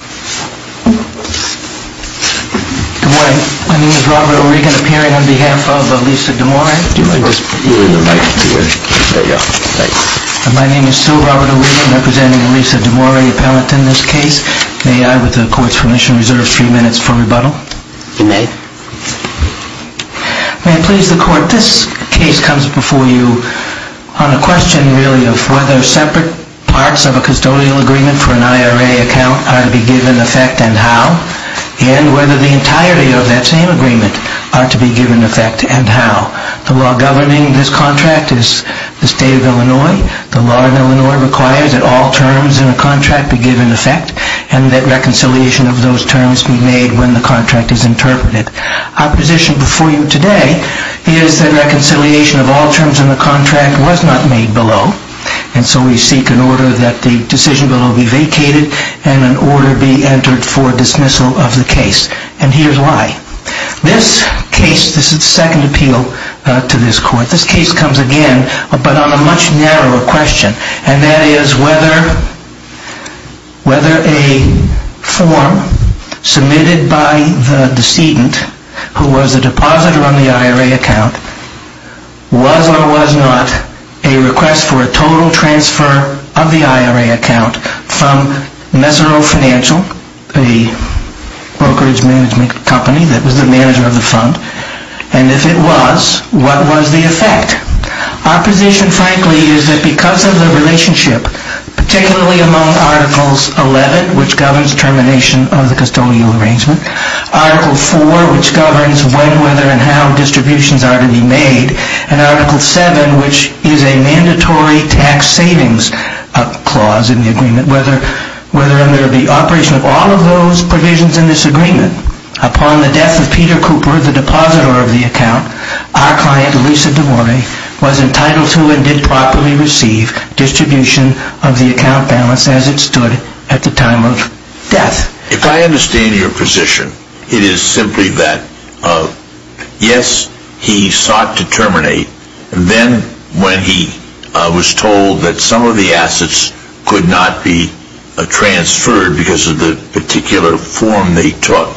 Good morning. My name is Robert O'Regan, appearing on behalf of Lisa D'Amore. My name is still Robert O'Regan, representing Lisa D'Amore, appellant in this case. May I, with the Court's permission, reserve three minutes for rebuttal? You may. May I please the Court, this case comes before you on a question, really, of whether separate parts of a custodial agreement for an IRA account are to be given effect and how, and whether the entirety of that same agreement are to be given effect and how. The law governing this contract is the State of Illinois. The law in Illinois requires that all terms in a contract be given effect and that reconciliation of those terms be made when the contract is interpreted. Our position before you today is that reconciliation of all terms in the contract was not made below, and so we seek an order that the decision bill be vacated and an order be entered for dismissal of the case. And here's why. This case, this is the second appeal to this Court. This case comes, again, but on a much narrower question, and that is whether a form submitted by the decedent, who was the depositor on the IRA account, was or was not a request for a total transfer of the IRA account from Mesero Financial, the brokerage management company that was the manager of the fund, and if it was, what was the effect? Our position, frankly, is that because of the relationship, particularly among Articles 11, which governs termination of the custodial arrangement, Article 4, which governs when, whether, and how distributions are to be made, and Article 7, which is a mandatory tax savings clause in the agreement, whether there be operation of all of those provisions in this agreement. Upon the death of Peter Cooper, the depositor of the account, our client, Lisa DeMori, was entitled to and did properly receive distribution of the account balance as it stood at the time of death. If I understand your position, it is simply that, yes, he sought to terminate, and then when he was told that some of the assets could not be transferred because of the particular form they took,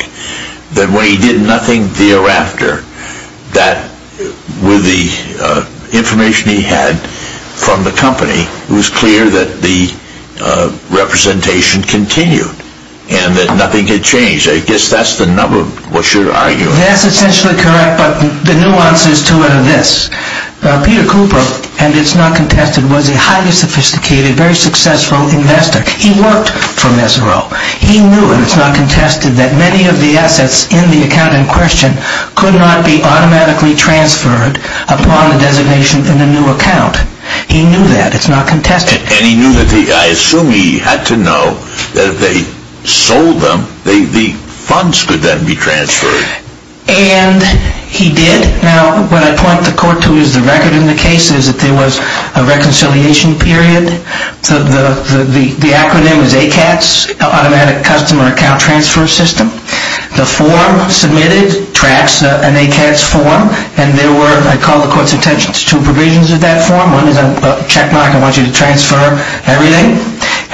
that when he did nothing thereafter, that with the information he had from the company, it was clear that the representation continued, and that nothing had changed. I guess that's the number, one should argue. That's essentially correct, but the nuances to it are this. Peter Cooper, and it's not contested, was a highly sophisticated, very successful investor. He worked for Messereau. He knew, and it's not contested, that many of the assets in the account in question could not be automatically transferred upon the designation in a new account. He knew that. It's not contested. And he knew, I assume he had to know, that if they sold them, the funds could then be transferred. And he did. Now, what I point the court to is the record in the case is that there was a reconciliation period. The acronym is ACATS, Automatic Customer Account Transfer System. The form submitted tracks an ACATS form, and there were, I call the court's attention, two provisions of that form. One is a checkmark, I want you to transfer everything.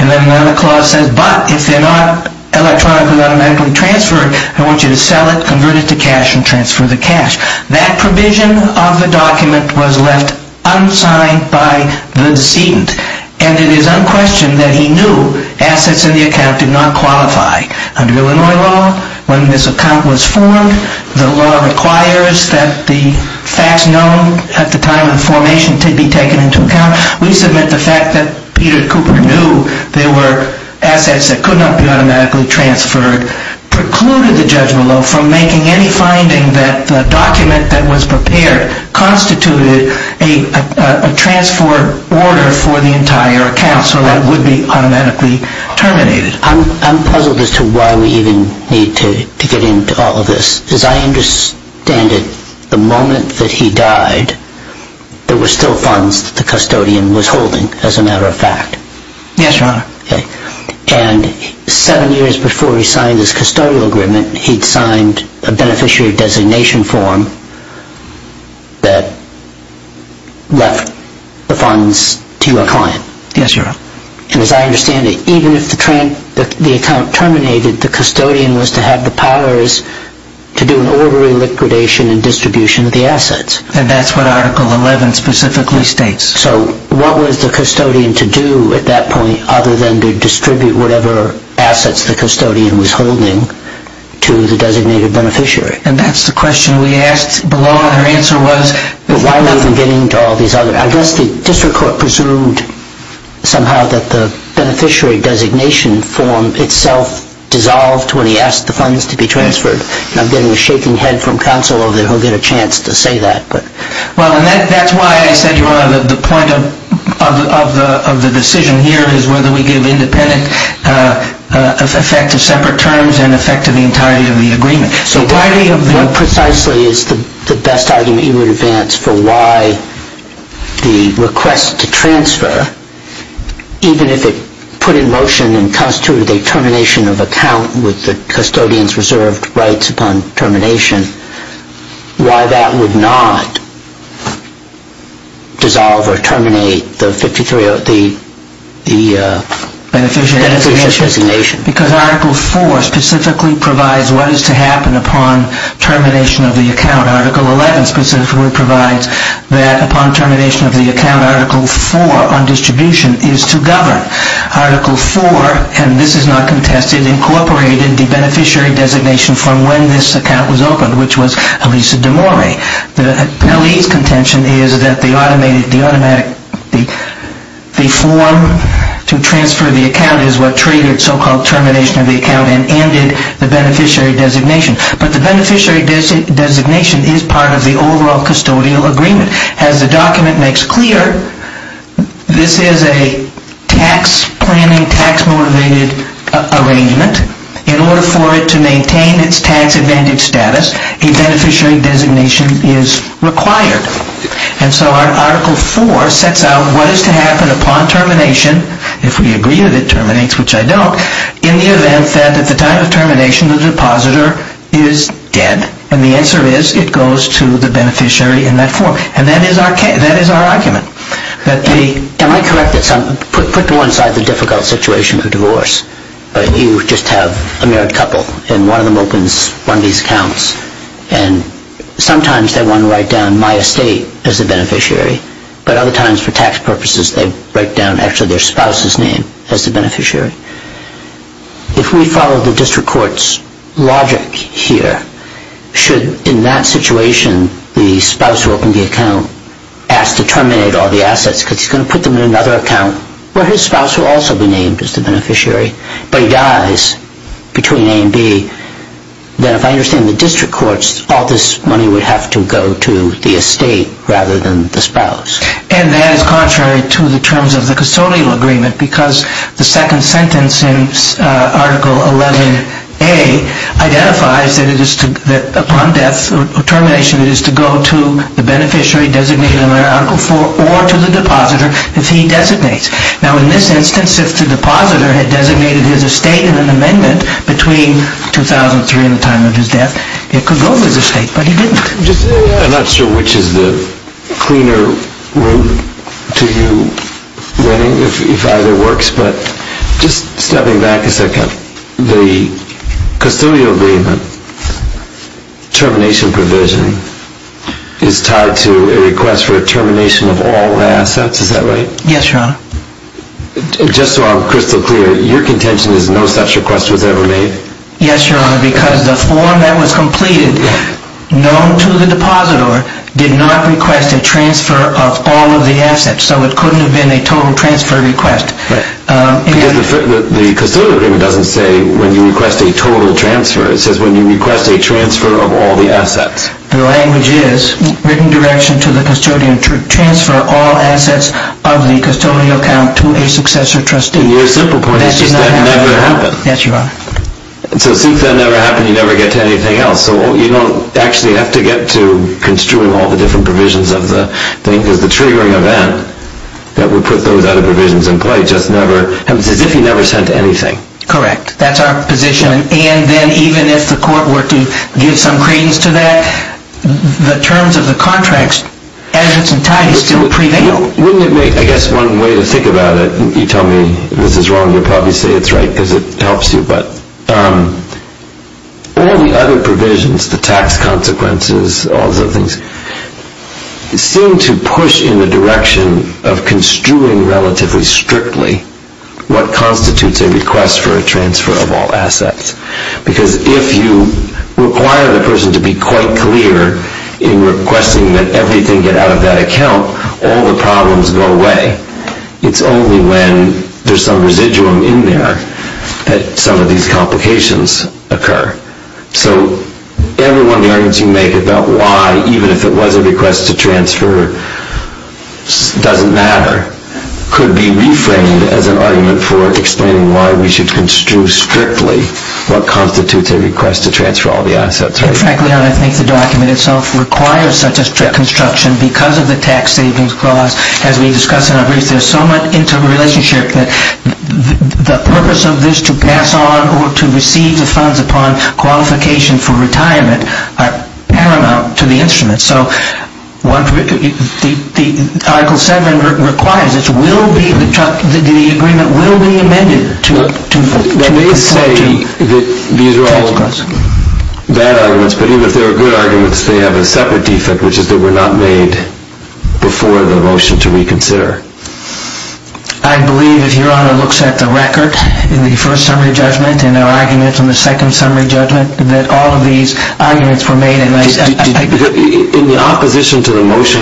And then another clause says, but if they're not electronically or automatically transferred, I want you to sell it, convert it to cash, and transfer the cash. That provision of the document was left unsigned by the decedent. And it is unquestioned that he knew assets in the account did not qualify. Under Illinois law, when this account was formed, the law requires that the facts known at the time of the formation to be taken into account. We submit the fact that Peter Cooper knew there were assets that could not be automatically transferred, precluded the judge below from making any finding that the document that was prepared constituted a transfer order for the entire account, so that it would be automatically terminated. I'm puzzled as to why we even need to get into all of this. As I understand it, the moment that he died, there were still funds that the custodian was holding, as a matter of fact. Yes, Your Honor. And seven years before he signed his custodial agreement, he'd signed a beneficiary designation form that left the funds to a client. Yes, Your Honor. And as I understand it, even if the account terminated, the custodian was to have the powers to do an orderly liquidation and distribution of the assets. And that's what Article 11 specifically states. So what was the custodian to do at that point, other than to distribute whatever assets the custodian was holding to the designated beneficiary? And that's the question we asked below, and her answer was... I guess the district court presumed somehow that the beneficiary designation form itself dissolved when he asked the funds to be transferred. And I'm getting a shaking head from counsel over there who'll get a chance to say that. Well, and that's why I said, Your Honor, that the point of the decision here is whether we give independent effect to separate terms and effect to the entirety of the agreement. So what precisely is the best argument you would advance for why the request to transfer, even if it put in motion and constituted a termination of account with the custodian's reserved rights upon termination, why that would not dissolve or terminate the beneficiary designation? Because Article 4 specifically provides what is to happen upon termination of the account. Article 11 specifically provides that upon termination of the account, Article 4 on distribution is to govern. Article 4, and this is not contested, incorporated the beneficiary designation form when this account was opened, which was Elisa D'Amore. The LE's contention is that the form to transfer the account is what treated so-called termination of the account and ended the beneficiary designation. But the beneficiary designation is part of the overall custodial agreement. As the document makes clear, this is a tax-planning, tax-motivated arrangement. In order for it to maintain its tax-advantaged status, a beneficiary designation is required. And so Article 4 sets out what is to happen upon termination, if we agree that it terminates, which I don't, in the event that at the time of termination the depositor is dead, and the answer is it goes to the beneficiary in that form. And that is our argument. Am I correct? Put to one side the difficult situation of divorce. You just have a married couple, and one of them opens one of these accounts, and sometimes they want to write down my estate as the beneficiary, but other times for tax purposes they write down actually their spouse's name as the beneficiary. If we follow the district court's logic here, should in that situation the spouse who opened the account ask to terminate all the assets because he's going to put them in another account where his spouse will also be named as the beneficiary, but he dies between A and B, then if I understand the district courts, all this money would have to go to the estate rather than the spouse. And that is contrary to the terms of the custodial agreement because the second sentence in Article 11A identifies that upon death or termination it is to go to the beneficiary designated under Article 4 or to the depositor if he designates. Now in this instance if the depositor had designated his estate in an amendment between 2003 and the time of his death, it could go to his estate, but he didn't. I'm not sure which is the cleaner route to you, if either works, but just stepping back a second, the custodial agreement termination provision is tied to a request for termination of all the assets, is that right? Yes, Your Honor. Just so I'm crystal clear, your contention is no such request was ever made? Yes, Your Honor, because the form that was completed, known to the depositor, did not request a transfer of all of the assets, so it couldn't have been a total transfer request. Because the custodial agreement doesn't say when you request a total transfer, it says when you request a transfer of all the assets. The language is written direction to the custodian to transfer all assets of the custodial account to a successor trustee. Your simple point is that never happened. Yes, Your Honor. So since that never happened, you never get to anything else, so you don't actually have to get to construing all the different provisions of the thing, because the triggering event that would put those other provisions in play just never happens, as if he never sent anything. Correct. That's our position. And then even if the court were to give some credence to that, the terms of the contract, as its entirety, still prevail. Wouldn't it make, I guess, one way to think about it, you tell me this is wrong, you'll probably say it's right because it helps you, but all the other provisions, the tax consequences, all those things, seem to push in the direction of construing relatively strictly what constitutes a request for a transfer of all assets. Because if you require the person to be quite clear in requesting that everything get out of that account, all the problems go away. It's only when there's some residuum in there that some of these complications occur. So every one of the arguments you make about why, even if it was a request to transfer, doesn't matter, could be reframed as an argument for explaining why we should construe strictly what constitutes a request to transfer all the assets. Frankly, Your Honor, I think the document itself requires such a strict construction because of the tax savings clause. As we discussed in our brief, there's so much interrelationship that the purpose of this to pass on or to receive the funds upon qualification for retirement are paramount to the instrument. So Article 7 requires that the agreement will be amended to make a point to the tax clause. They may say that these are all bad arguments, but even if they are good arguments, they have a separate defect, which is that they were not made before the motion to reconsider. I believe, if Your Honor looks at the record in the first summary judgment and our arguments in the second summary judgment, that all of these arguments were made in this. In the opposition to the motion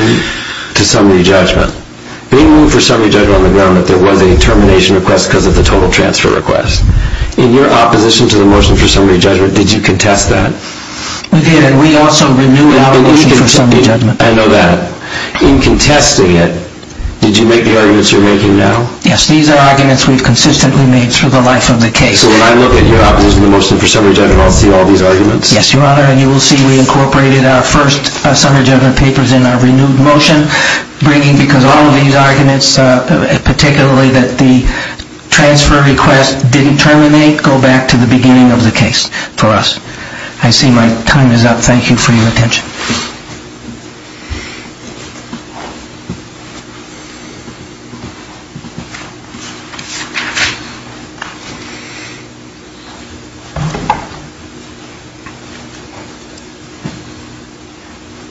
to summary judgment, they moved for summary judgment on the ground that there was a termination request because of the total transfer request. In your opposition to the motion for summary judgment, did you contest that? We did, and we also renewed our motion for summary judgment. I know that. In contesting it, did you make the arguments you're making now? Yes, these are arguments we've consistently made through the life of the case. So when I look at your opposition to the motion for summary judgment, I'll see all these arguments? Yes, Your Honor. And you will see we incorporated our first summary judgment papers in our renewed motion, because all of these arguments, particularly that the transfer request didn't terminate, go back to the beginning of the case for us. I see my time is up. Thank you for your attention.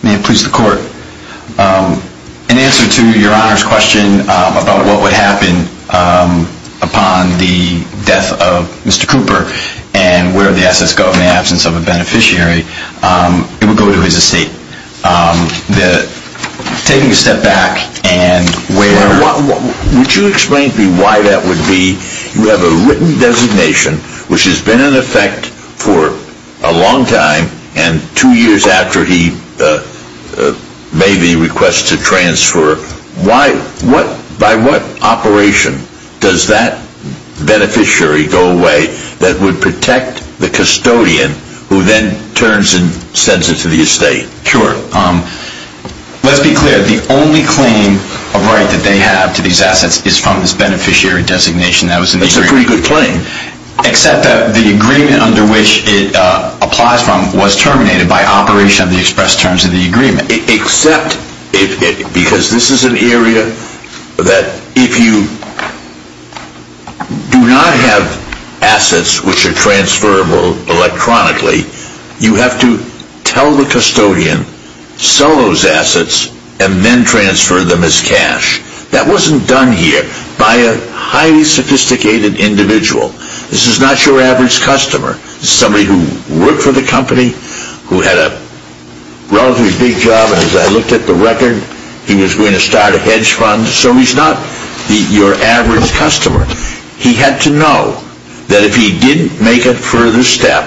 May it please the Court. In answer to Your Honor's question about what would happen upon the death of Mr. Cooper and where the assets go in the absence of a beneficiary, it would go to his estate. Taking a step back and where... Would you explain to me why that would be? You have a written designation, which has been in effect for a long time, and two years after he made the request to transfer, by what operation does that beneficiary go away that would protect the custodian who then turns and sends it to the estate? Sure. Let's be clear. The only claim of right that they have to these assets is from this beneficiary designation that was in the agreement. That's a pretty good claim. Except that the agreement under which it applies from was terminated by operation of the express terms of the agreement. Except, because this is an area that if you do not have assets which are transferable electronically, you have to tell the custodian, sell those assets, and then transfer them as cash. That wasn't done here by a highly sophisticated individual. This is not your average customer. This is somebody who worked for the company, who had a relatively big job, and as I looked at the record, he was going to start a hedge fund, so he's not your average customer. He had to know that if he didn't make a further step,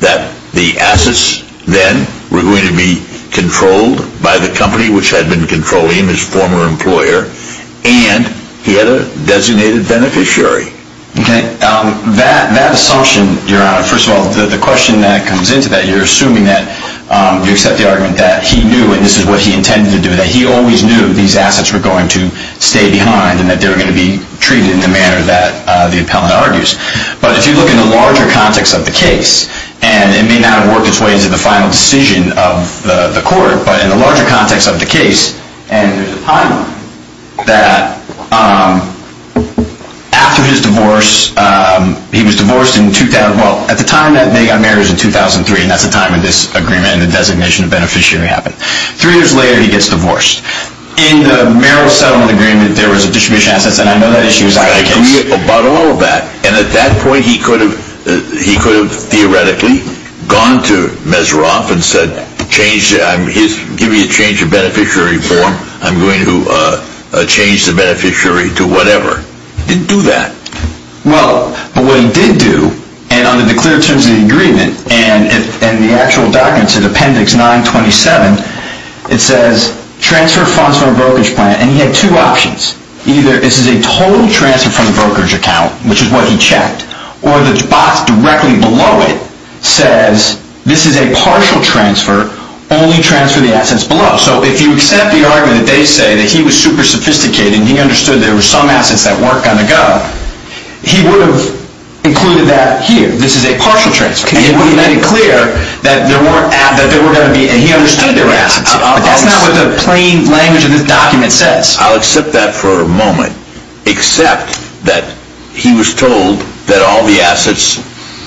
that the assets then were going to be controlled by the company which had been controlling him, his former employer, and he had a designated beneficiary. Okay. That assumption, Your Honor, first of all, the question that comes into that, you're assuming that you accept the argument that he knew, and this is what he intended to do, that he always knew these assets were going to stay behind and that they were going to be treated in the manner that the appellant argues. But if you look in the larger context of the case, and it may not have worked its way into the final decision of the court, but in the larger context of the case, and there's a timeline, that after his divorce, he was divorced in, well, at the time that they got married was in 2003, and that's the time that this agreement and the designation of beneficiary happened. Three years later, he gets divorced. In the Merrill settlement agreement, there was a distribution of assets, and I know that issue is out of the case. I agree about all of that. And at that point, he could have theoretically gone to Meserov and said, give me a change of beneficiary form, I'm going to change the beneficiary to whatever. He didn't do that. In the actual documents, in appendix 927, it says, transfer funds from a brokerage plant, and he had two options. Either this is a total transfer from the brokerage account, which is what he checked, or the box directly below it says, this is a partial transfer, only transfer the assets below. So if you accept the argument that they say that he was super sophisticated and he understood there were some assets that weren't going to go, he would have included that here. This is a partial transfer. And he made it clear that there were going to be, and he understood there were assets. But that's not what the plain language of this document says. I'll accept that for a moment. Except that he was told that all the assets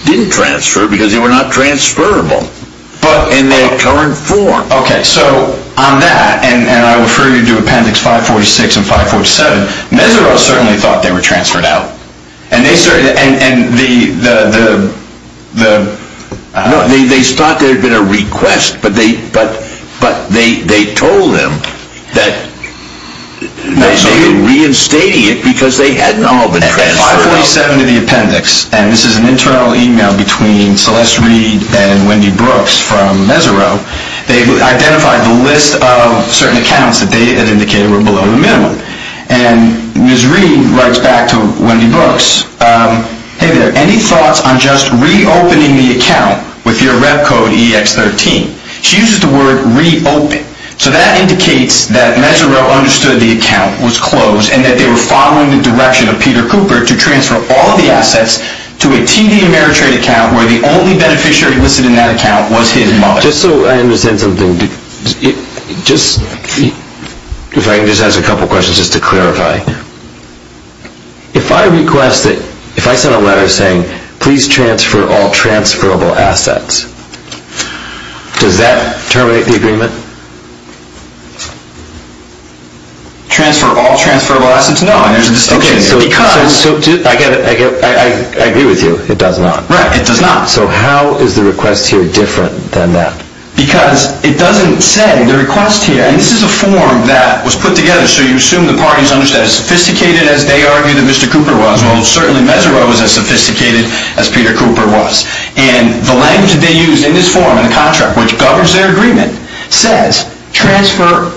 didn't transfer because they were not transferable. But in their current form. Okay, so on that, and I refer you to appendix 546 and 547, Meserov certainly thought they were transferred out. And they certainly, and the, the, the, I don't know, they thought there had been a request, but they, but, but they, they told them that they were reinstating it because they hadn't all been transferred out. And 547 to the appendix, and this is an internal email between Celeste Reed and Wendy Brooks from Meserov. They identified the list of certain accounts that they had indicated were below the minimum. And Ms. Reed writes back to Wendy Brooks. Hey there, any thoughts on just re-opening the account with your rep code EX13? She uses the word re-open. So that indicates that Meserov understood the account was closed and that they were following the direction of Peter Cooper to transfer all the assets to a TD Ameritrade account where the only beneficiary listed in that account was his mother. Just so I understand something, just, if I can just ask a couple questions just to clarify. If I request that, if I send a letter saying, please transfer all transferable assets, does that terminate the agreement? Transfer all transferable assets? No, there's a distinction. Okay, so, so, I get it, I get it, I agree with you, it does not. Right, it does not. So how is the request here different than that? Because it doesn't say, the request here, and this is a form that was put together, so you assume the parties understood it as sophisticated as they argued that Mr. Cooper was. Well, certainly Meserov was as sophisticated as Peter Cooper was. And the language that they used in this form, in the contract, which governs their agreement, says transfer,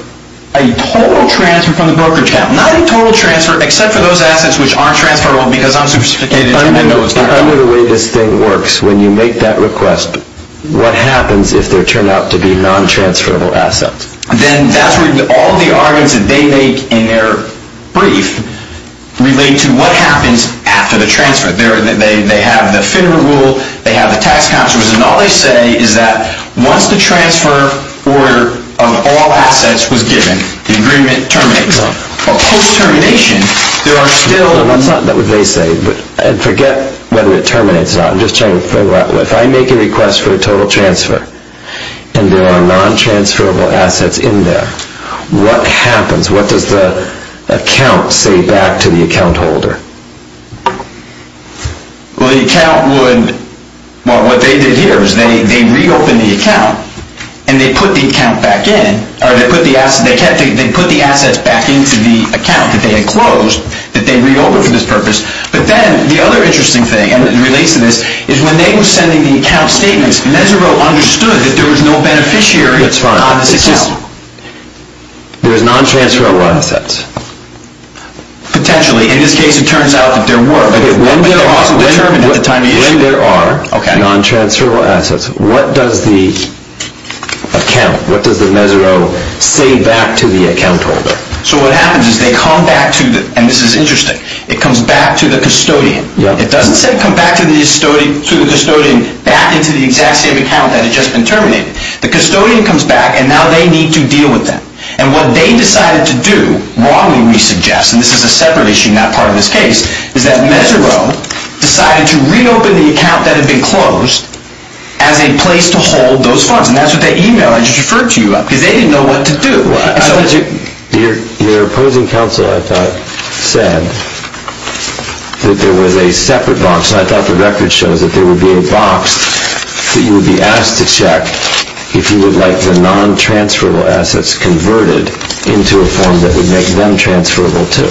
a total transfer from the brokerage account. Not a total transfer, except for those assets which aren't transferable because I'm sophisticated and I know it's not. But under the way this thing works, when you make that request, what happens if there turn out to be non-transferable assets? Then that's where all the arguments that they make in their brief relate to what happens after the transfer. They have the FINRA rule, they have the tax counselors, and all they say is that once the transfer order of all assets was given, the agreement terminates. But post-termination, there are still... That's not what they say, and forget whether it terminates or not. I'm just trying to figure out, if I make a request for a total transfer, and there are non-transferable assets in there, what happens? What does the account say back to the account holder? Well, the account would... Well, what they did here is they reopened the account, and they put the account back in, or they put the assets back into the account that they had closed, that they reopened for this purpose. But then, the other interesting thing, and it relates to this, is when they were sending the account statements, Mesereau understood that there was no beneficiary of this account. That's fine. There's non-transferable assets. Potentially. In this case, it turns out that there were. When there are non-transferable assets, what does the account, what does the Mesereau say back to the account holder? So what happens is they come back to the... And this is interesting. It comes back to the custodian. It doesn't say come back to the custodian back into the exact same account that had just been terminated. The custodian comes back, and now they need to deal with that. And what they decided to do, wrongly we suggest, and this is a separate issue, not part of this case, is that Mesereau decided to reopen the account that had been closed as a place to hold those funds. And that's what they emailed and just referred to you about, because they didn't know what to do. Your opposing counsel, I thought, said that there was a separate box, and I thought the record shows that there would be a box that you would be asked to check if you would like the non-transferable assets converted into a form that would make them transferable too.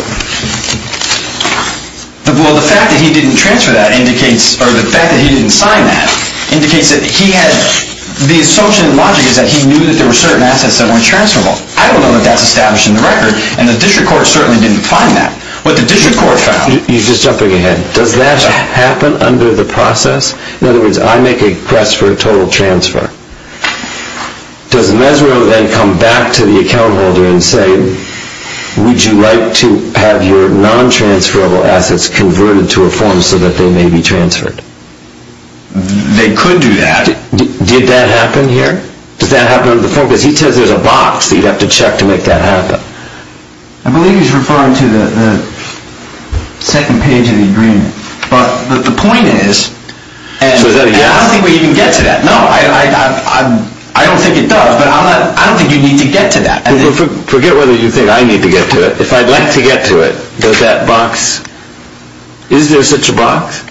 Well, the fact that he didn't transfer that indicates, or the fact that he didn't sign that, indicates that he had, the assumption and logic is that he knew that there were certain assets that weren't transferable. I don't know that that's established in the record, and the district court certainly didn't find that. What the district court found... You're just jumping ahead. Does that happen under the process? In other words, I make a request for a total transfer. Does Mesereau then come back to the account holder and say, would you like to have your non-transferable assets converted to a form so that they may be transferred? They could do that. Did that happen here? Does that happen under the form? Because he says there's a box that you'd have to check to make that happen. I believe he's referring to the second page of the agreement. But the point is... So is that a yes? I don't think we even get to that. No, I don't think it does, but I don't think you need to get to that. Forget whether you think I need to get to it. If I'd like to get to it, does that box... Is there such a box?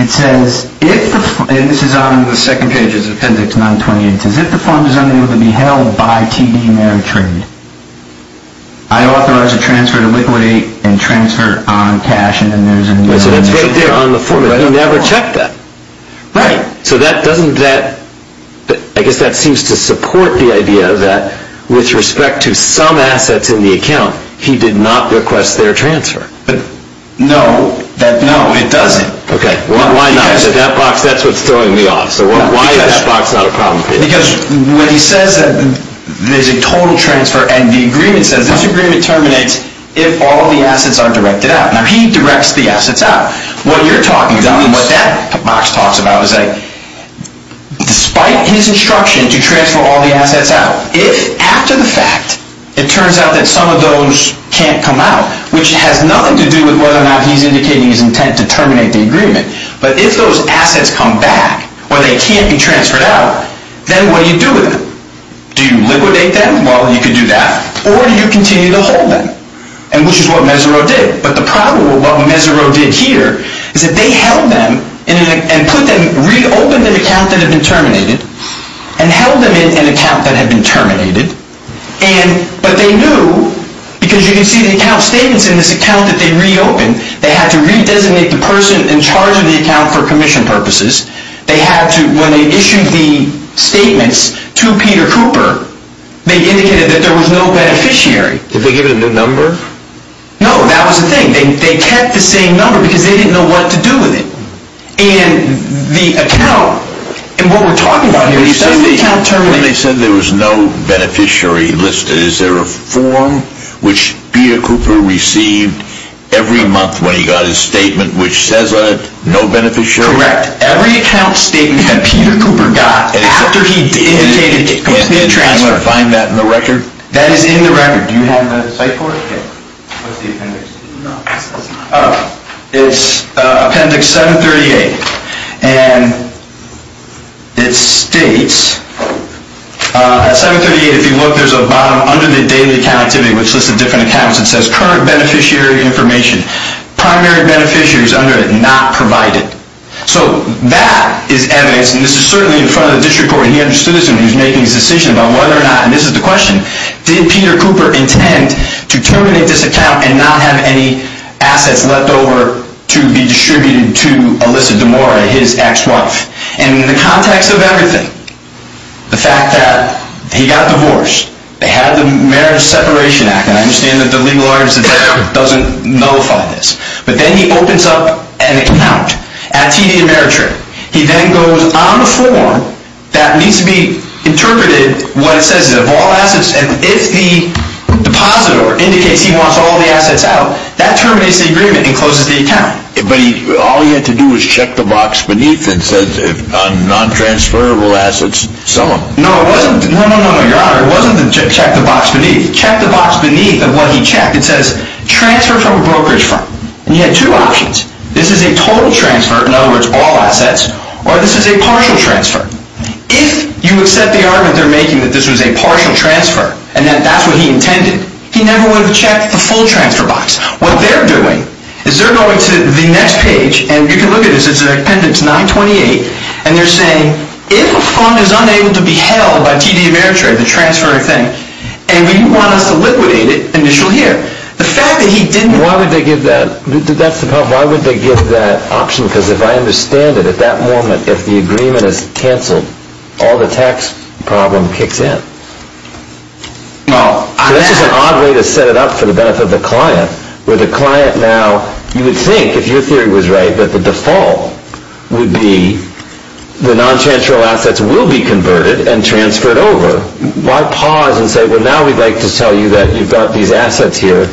It says, if the fund... And this is on the second page, it's appendix 928. It says, if the fund is unable to be held by TD Ameritrade, I authorize a transfer to Liquidity and transfer on cash, and then there's a... So that's right there on the form, but he never checked that. Right. So that doesn't... I guess that seems to support the idea that, with respect to some assets in the account, he did not request their transfer. No. No, it doesn't. Okay. Why not? That box, that's what's throwing me off. So why is that box not a problem page? Because when he says that there's a total transfer, and the agreement says this agreement terminates if all the assets are directed out. Now, he directs the assets out. What you're talking about, what that box talks about, is that despite his instruction to transfer all the assets out, if, after the fact, it turns out that some of those can't come out, which has nothing to do with whether or not he's indicating his intent to terminate the agreement, but if those assets come back, or they can't be transferred out, then what do you do with them? Do you liquidate them? Well, you could do that. Or do you continue to hold them, which is what Mesereau did. But the problem with what Mesereau did here is that they held them and put them... reopened an account that had been terminated and held them in an account that had been terminated, but they knew, because you can see the account statements in this account that they reopened, they had to re-designate the person in charge of the account for commission purposes. They had to, when they issued the statements to Peter Cooper, they indicated that there was no beneficiary. Did they give it a new number? No, that was the thing. They kept the same number because they didn't know what to do with it. And the account, and what we're talking about here, when they said there was no beneficiary listed, is there a form which Peter Cooper received every month when he got his statement which says no beneficiary? Correct. Every account statement that Peter Cooper got after he indicated complete transfer. And can I find that in the record? That is in the record. Do you have it on the site for us? What's the appendix? No. It's appendix 738. And it states, at 738, if you look, there's a bottom under the daily account activity which lists the different accounts. It says current beneficiary information. Primary beneficiaries under it not provided. So that is evidence, and this is certainly in front of the district court, and he understood this when he was making his decision about whether or not, and this is the question, did Peter Cooper intend to terminate this account and not have any assets left over to be distributed to Alyssa DeMora, his ex-wife? And in the context of everything, the fact that he got divorced, they had the Marriage Separation Act, and I understand that the legal argument doesn't nullify this, but then he opens up an account at TD Ameritrade. He then goes on the form that needs to be interpreted, what it says is of all assets, and if the depositor indicates he wants all the assets out, that terminates the agreement and closes the account. But all he had to do was check the box beneath and says, if non-transferable assets, sell them. No, it wasn't. No, no, no, no, Your Honor. It wasn't to check the box beneath. Check the box beneath of what he checked. It says, transfer from a brokerage firm. And he had two options. This is a total transfer, in other words, all assets, or this is a partial transfer. If you accept the argument they're making that this was a partial transfer, and that that's what he intended, he never would have checked the full transfer box. What they're doing is they're going to the next page, and you can look at this, it's an appendix 928, and they're saying, if a fund is unable to be held by TD Ameritrade, the transfer thing, and we want us to liquidate it initial here. The fact that he didn't... Why would they give that? That's the problem. Why would they give that option? Because if I understand it, at that moment, if the agreement is canceled, all the tax problem kicks in. This is an odd way to set it up for the benefit of the client, where the client now, you would think, if your theory was right, that the default would be the non-transferral assets will be converted and transferred over. Why pause and say, well, now we'd like to tell you that you've got these assets here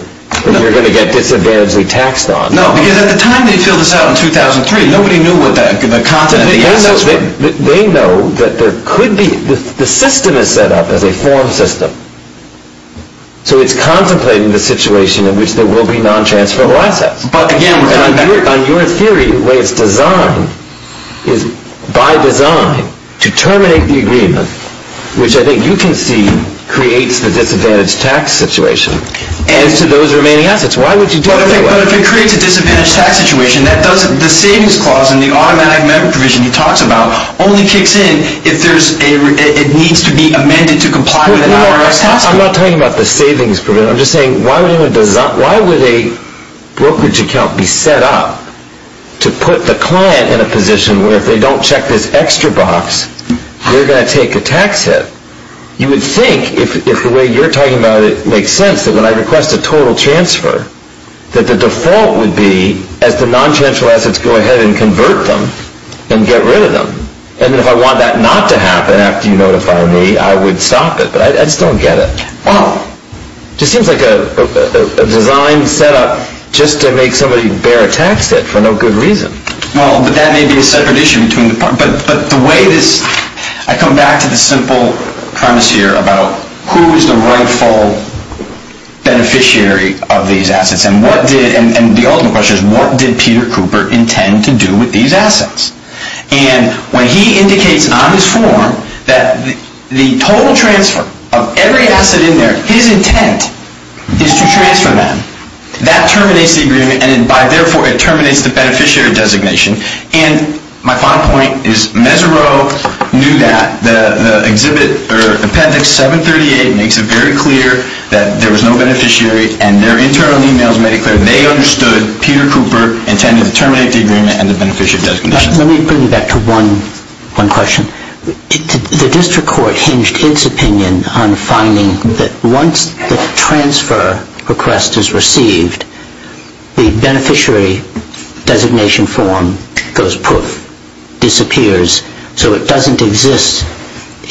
that you're going to get disadvantageally taxed on. No, because at the time they filled this out in 2003, nobody knew what the content of the assets were. They know that there could be... The system is set up as a form system. So it's contemplating the situation in which there will be non-transferable assets. But again, we're talking about... On your theory, the way it's designed is by design to terminate the agreement, which I think you can see creates the disadvantage tax situation as to those remaining assets. Why would you do that? But if it creates a disadvantage tax situation, that doesn't... The savings clause in the automatic member provision he talks about only kicks in if there's a... It needs to be amended to comply with an IRS... I'm not talking about the savings provision. I'm just saying, why would a brokerage account be set up to put the client in a position where if they don't check this extra box, they're going to take a tax hit? You would think, if the way you're talking about it makes sense, that when I request a total transfer, that the default would be as the non-transferable assets go ahead and convert them and get rid of them. And if I want that not to happen after you notify me, I would stop it. But I just don't get it. Well, it just seems like a design set up just to make somebody bear a tax hit for no good reason. Well, but that may be a separate issue between the parties. But the way this... I come back to the simple premise here about who is the rightful beneficiary of these assets. And the ultimate question is, what did Peter Cooper intend to do with these assets? And when he indicates on his form that the total transfer of every asset in there, his intent is to transfer them, that terminates the agreement and therefore it terminates the beneficiary designation. And my final point is, Mesereau knew that. The appendix 738 makes it very clear that there was no beneficiary and their internal emails made it clear they understood Peter Cooper intended to terminate the agreement and the beneficiary designation. Let me bring you back to one question. The district court hinged its opinion on finding that once the transfer request is received, the beneficiary designation form goes poof, disappears. So it doesn't exist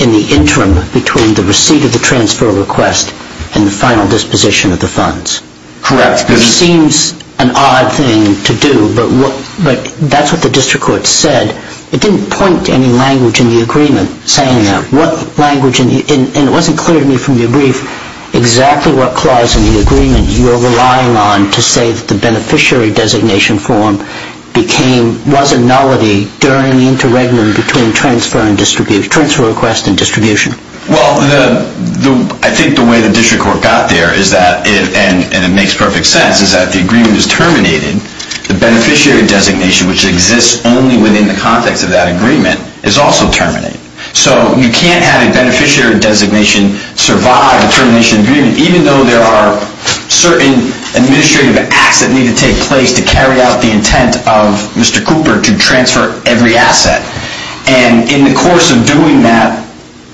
in the interim between the receipt of the transfer request and the final disposition of the funds. Correct. It seems an odd thing to do, but that's what the district court said. It didn't point to any language in the agreement saying that. And it wasn't clear to me from your brief exactly what clause in the agreement you're relying on to say that the beneficiary designation form was a nullity during the interregnum between transfer request and distribution. Well, I think the way the district court got there and it makes perfect sense is that the agreement is terminated. The beneficiary designation, which exists only within the context of that agreement, is also terminated. So you can't have a beneficiary designation survive a termination agreement even though there are certain administrative acts that need to take place to carry out the intent of Mr. Cooper to transfer every asset. And in the course of doing that,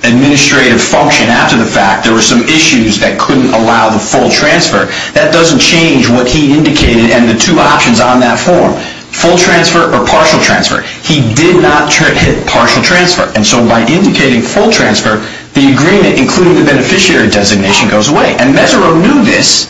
administrative function after the fact, there were some issues that couldn't allow the full transfer. That doesn't change what he indicated and the two options on that form, full transfer or partial transfer. He did not hit partial transfer. And so by indicating full transfer, the agreement, including the beneficiary designation, goes away. And Mesereau knew this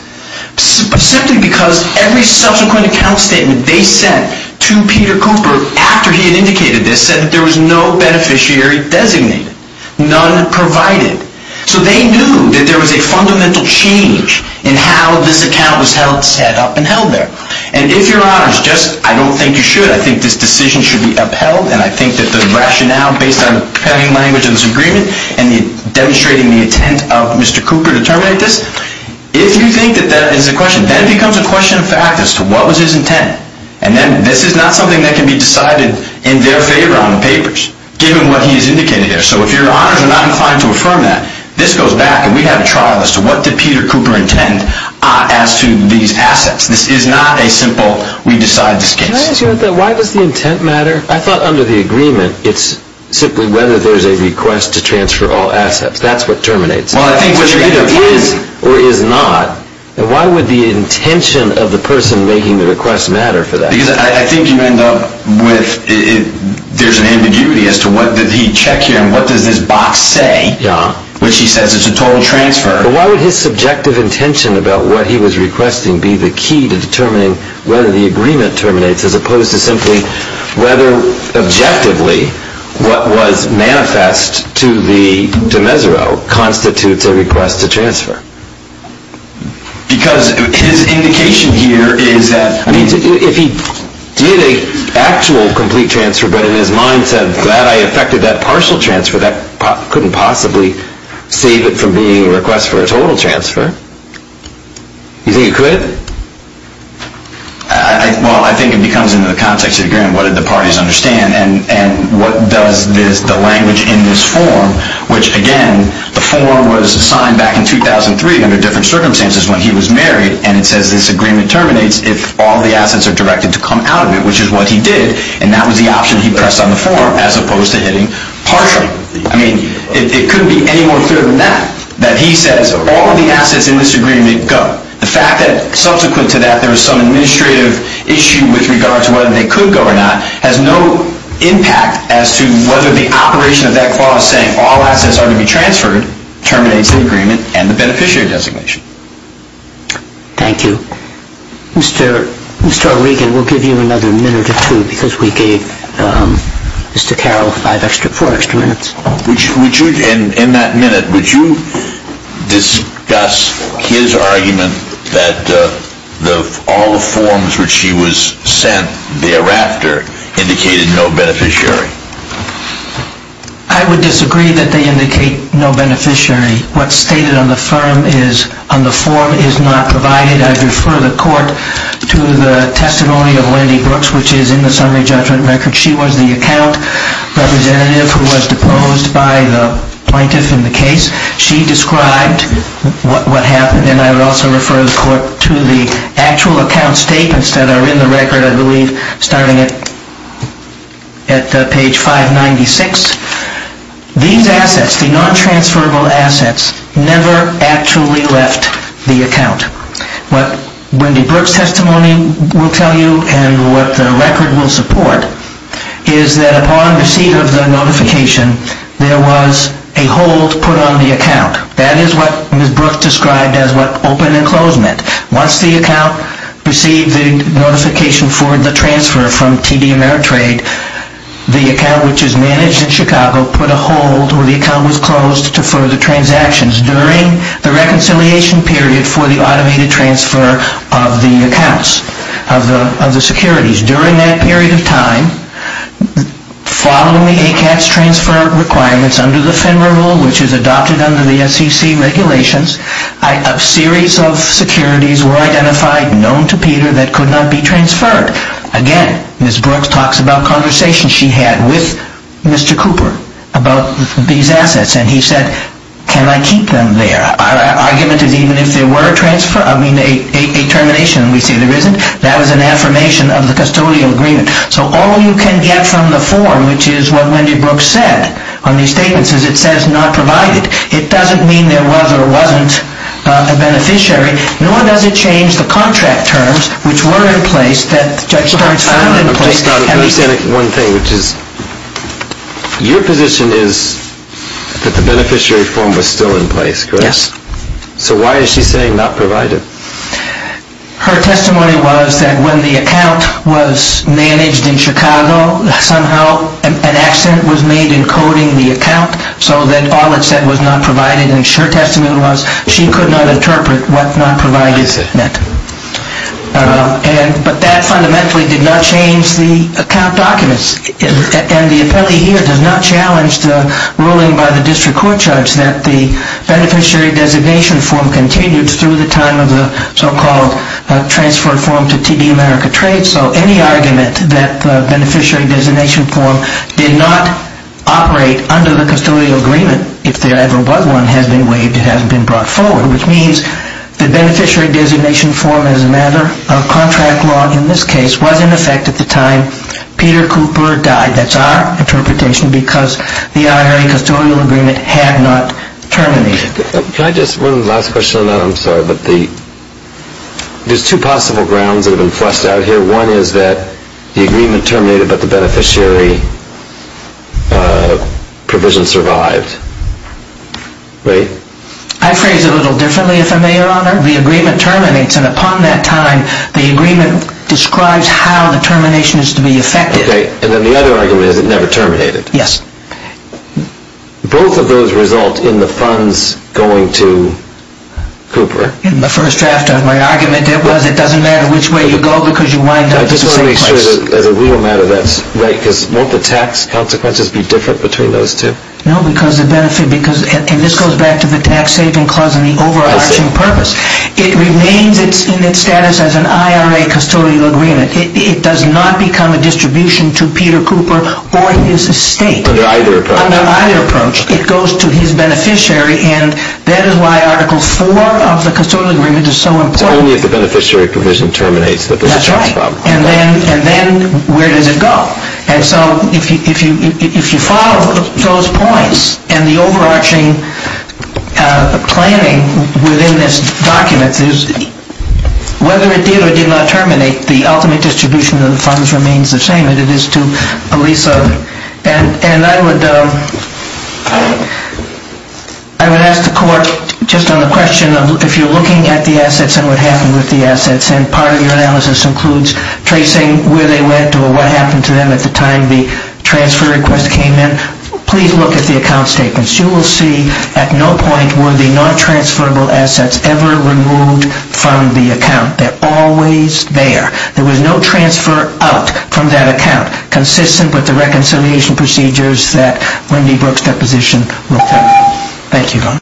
simply because every subsequent account statement they sent to Peter Cooper after he had indicated this said that there was no beneficiary designated. None provided. So they knew that there was a fundamental change in how this account was set up and held there. And if Your Honors, just I don't think you should, I think this decision should be upheld and I think that the rationale based on the preparing language of this agreement and demonstrating the intent of Mr. Cooper to terminate this, if you think that that is a question, then it becomes a question of fact as to what was his intent. And then this is not something that can be decided in their favor on the papers given what he has indicated there. So if Your Honors are not inclined to affirm that, this goes back, and we have a trial as to what did Peter Cooper intend as to these assets. This is not a simple, we decide this case. Can I ask you about that? Why does the intent matter? I thought under the agreement it's simply whether there's a request to transfer all assets. That's what terminates it. Well, I think what you're getting at is or is not, why would the intention of the person making the request matter for that? Because I think you end up with there's an ambiguity as to what did he check here and what does this box say, which he says is a total transfer. But why would his subjective intention about what he was requesting be the key to determining whether the agreement terminates as opposed to simply whether objectively what was manifest to the de mesuro constitutes a request to transfer? Because his indication here is that if he did an actual complete transfer but in his mind said I'm glad I effected that partial transfer that couldn't possibly save it from being a request for a total transfer. You think it could? Well, I think it becomes into the context of the agreement what did the parties understand and what does the language in this form which again, the form was signed back in 2003 under different circumstances when he was married and it says this agreement terminates if all the assets are directed to come out of it which is what he did and that was the option he pressed on the form as opposed to hitting partial. I mean, it couldn't be any more clear than that that he says all of the assets in this agreement go. The fact that subsequent to that there was some administrative issue with regard to whether they could go or not has no impact as to whether the operation of that clause saying all assets are to be transferred terminates the agreement and the beneficiary designation. Thank you. Mr. Regan, we'll give you another minute or two because we gave Mr. Carroll four extra minutes. In that minute would you discuss his argument that all the forms which he was sent thereafter indicated no beneficiary? I would disagree that they indicate no beneficiary. What's stated on the form is not provided. I refer the court to the testimony of Lindy Brooks which is in the summary judgment record. She was the account representative who was deposed by the plaintiff in the case. She described what happened and I would also refer the court to the actual account statements that are in the record I believe starting at page 596. These assets, the non-transferable assets never actually left the account. What Lindy Brooks' testimony will tell you and what the record will support is that upon receipt of the notification there was a hold put on the account. That is what Ms. Brooks described as what open and close meant. Once the account received the notification for the transfer from TD Ameritrade the account which is managed in Chicago put a hold or the account was closed to further transactions during the reconciliation period for the automated transfer of the accounts, of the securities. During that period of time following the ACAT's transfer requirements under the FINRA rule which is adopted under the SEC regulations a series of securities were identified known to Peter that could not be transferred. Again, Ms. Brooks talks about conversations she had with Mr. Cooper about these assets and he said can I keep them there? Our argument is even if they were transferred I mean a termination we say there isn't that was an affirmation of the custodial agreement. So all you can get from the form which is what Wendy Brooks said on these statements is it says not provided. It doesn't mean there was or wasn't a beneficiary nor does it change the contract terms which were in place that the judge starts filing in place. I understand one thing which is your position is that the beneficiary form was still in place, correct? Yes. So why is she saying not provided? Her testimony was that when the account was managed in Chicago somehow an accident was made in coding the account so that all it said was not provided and her testimony was she could not interpret what not provided meant. But that fundamentally did not change the account documents and the appellee here does not challenge the ruling by the district court judge that the beneficiary designation form continued through the time of the so-called transfer form to TD America Trades so any argument that the beneficiary designation form did not operate under the custodial agreement if there ever was one has been waived it hasn't been brought forward which means the beneficiary designation form as a matter of contract law in this case was in effect at the time Peter Cooper died. That's our interpretation because the IRA custodial agreement had not terminated. Can I just one last question on that I'm sorry but the there's two possible grounds that have been flushed out here one is that the agreement terminated but the beneficiary provision survived. Right? I phrase it a little differently if I may your honor the agreement terminates and upon that time the agreement describes how the termination is to be effected. Okay. And then the other argument is it never terminated. Yes. Both of those result in the funds going to Cooper. In the first draft of my argument it was it doesn't matter which way you go because you wind up at the same place. I just want to make sure that as a real matter that's right because won't the tax consequences be different between those two? No because the benefit because and this goes back to the tax saving clause and the overarching purpose it remains in its status as an IRA custodial agreement it does not become a distribution to Peter Cooper or his estate. Under either approach. Under either approach it goes to his beneficiary and that is why article 4 of the custodial agreement is so important. So only if the beneficiary provision terminates that there's a tax problem. That's right. And then where does it go? And so if you follow those points and the overarching planning within this document is whether it did or did not terminate the ultimate distribution of the funds remains the same and it is to Elisa and I would I would ask the court just on the question of if you're looking at the assets and what happened with the assets and part of your analysis includes tracing where they went or what happened to them at the time the transfer request came in please look at the account statements. You will see at no point were the non-transferable assets ever removed from the account. They're always there. There was no transfer out from that account consistent with the reconciliation procedures that Randy Brooks' deposition referred to. Thank you.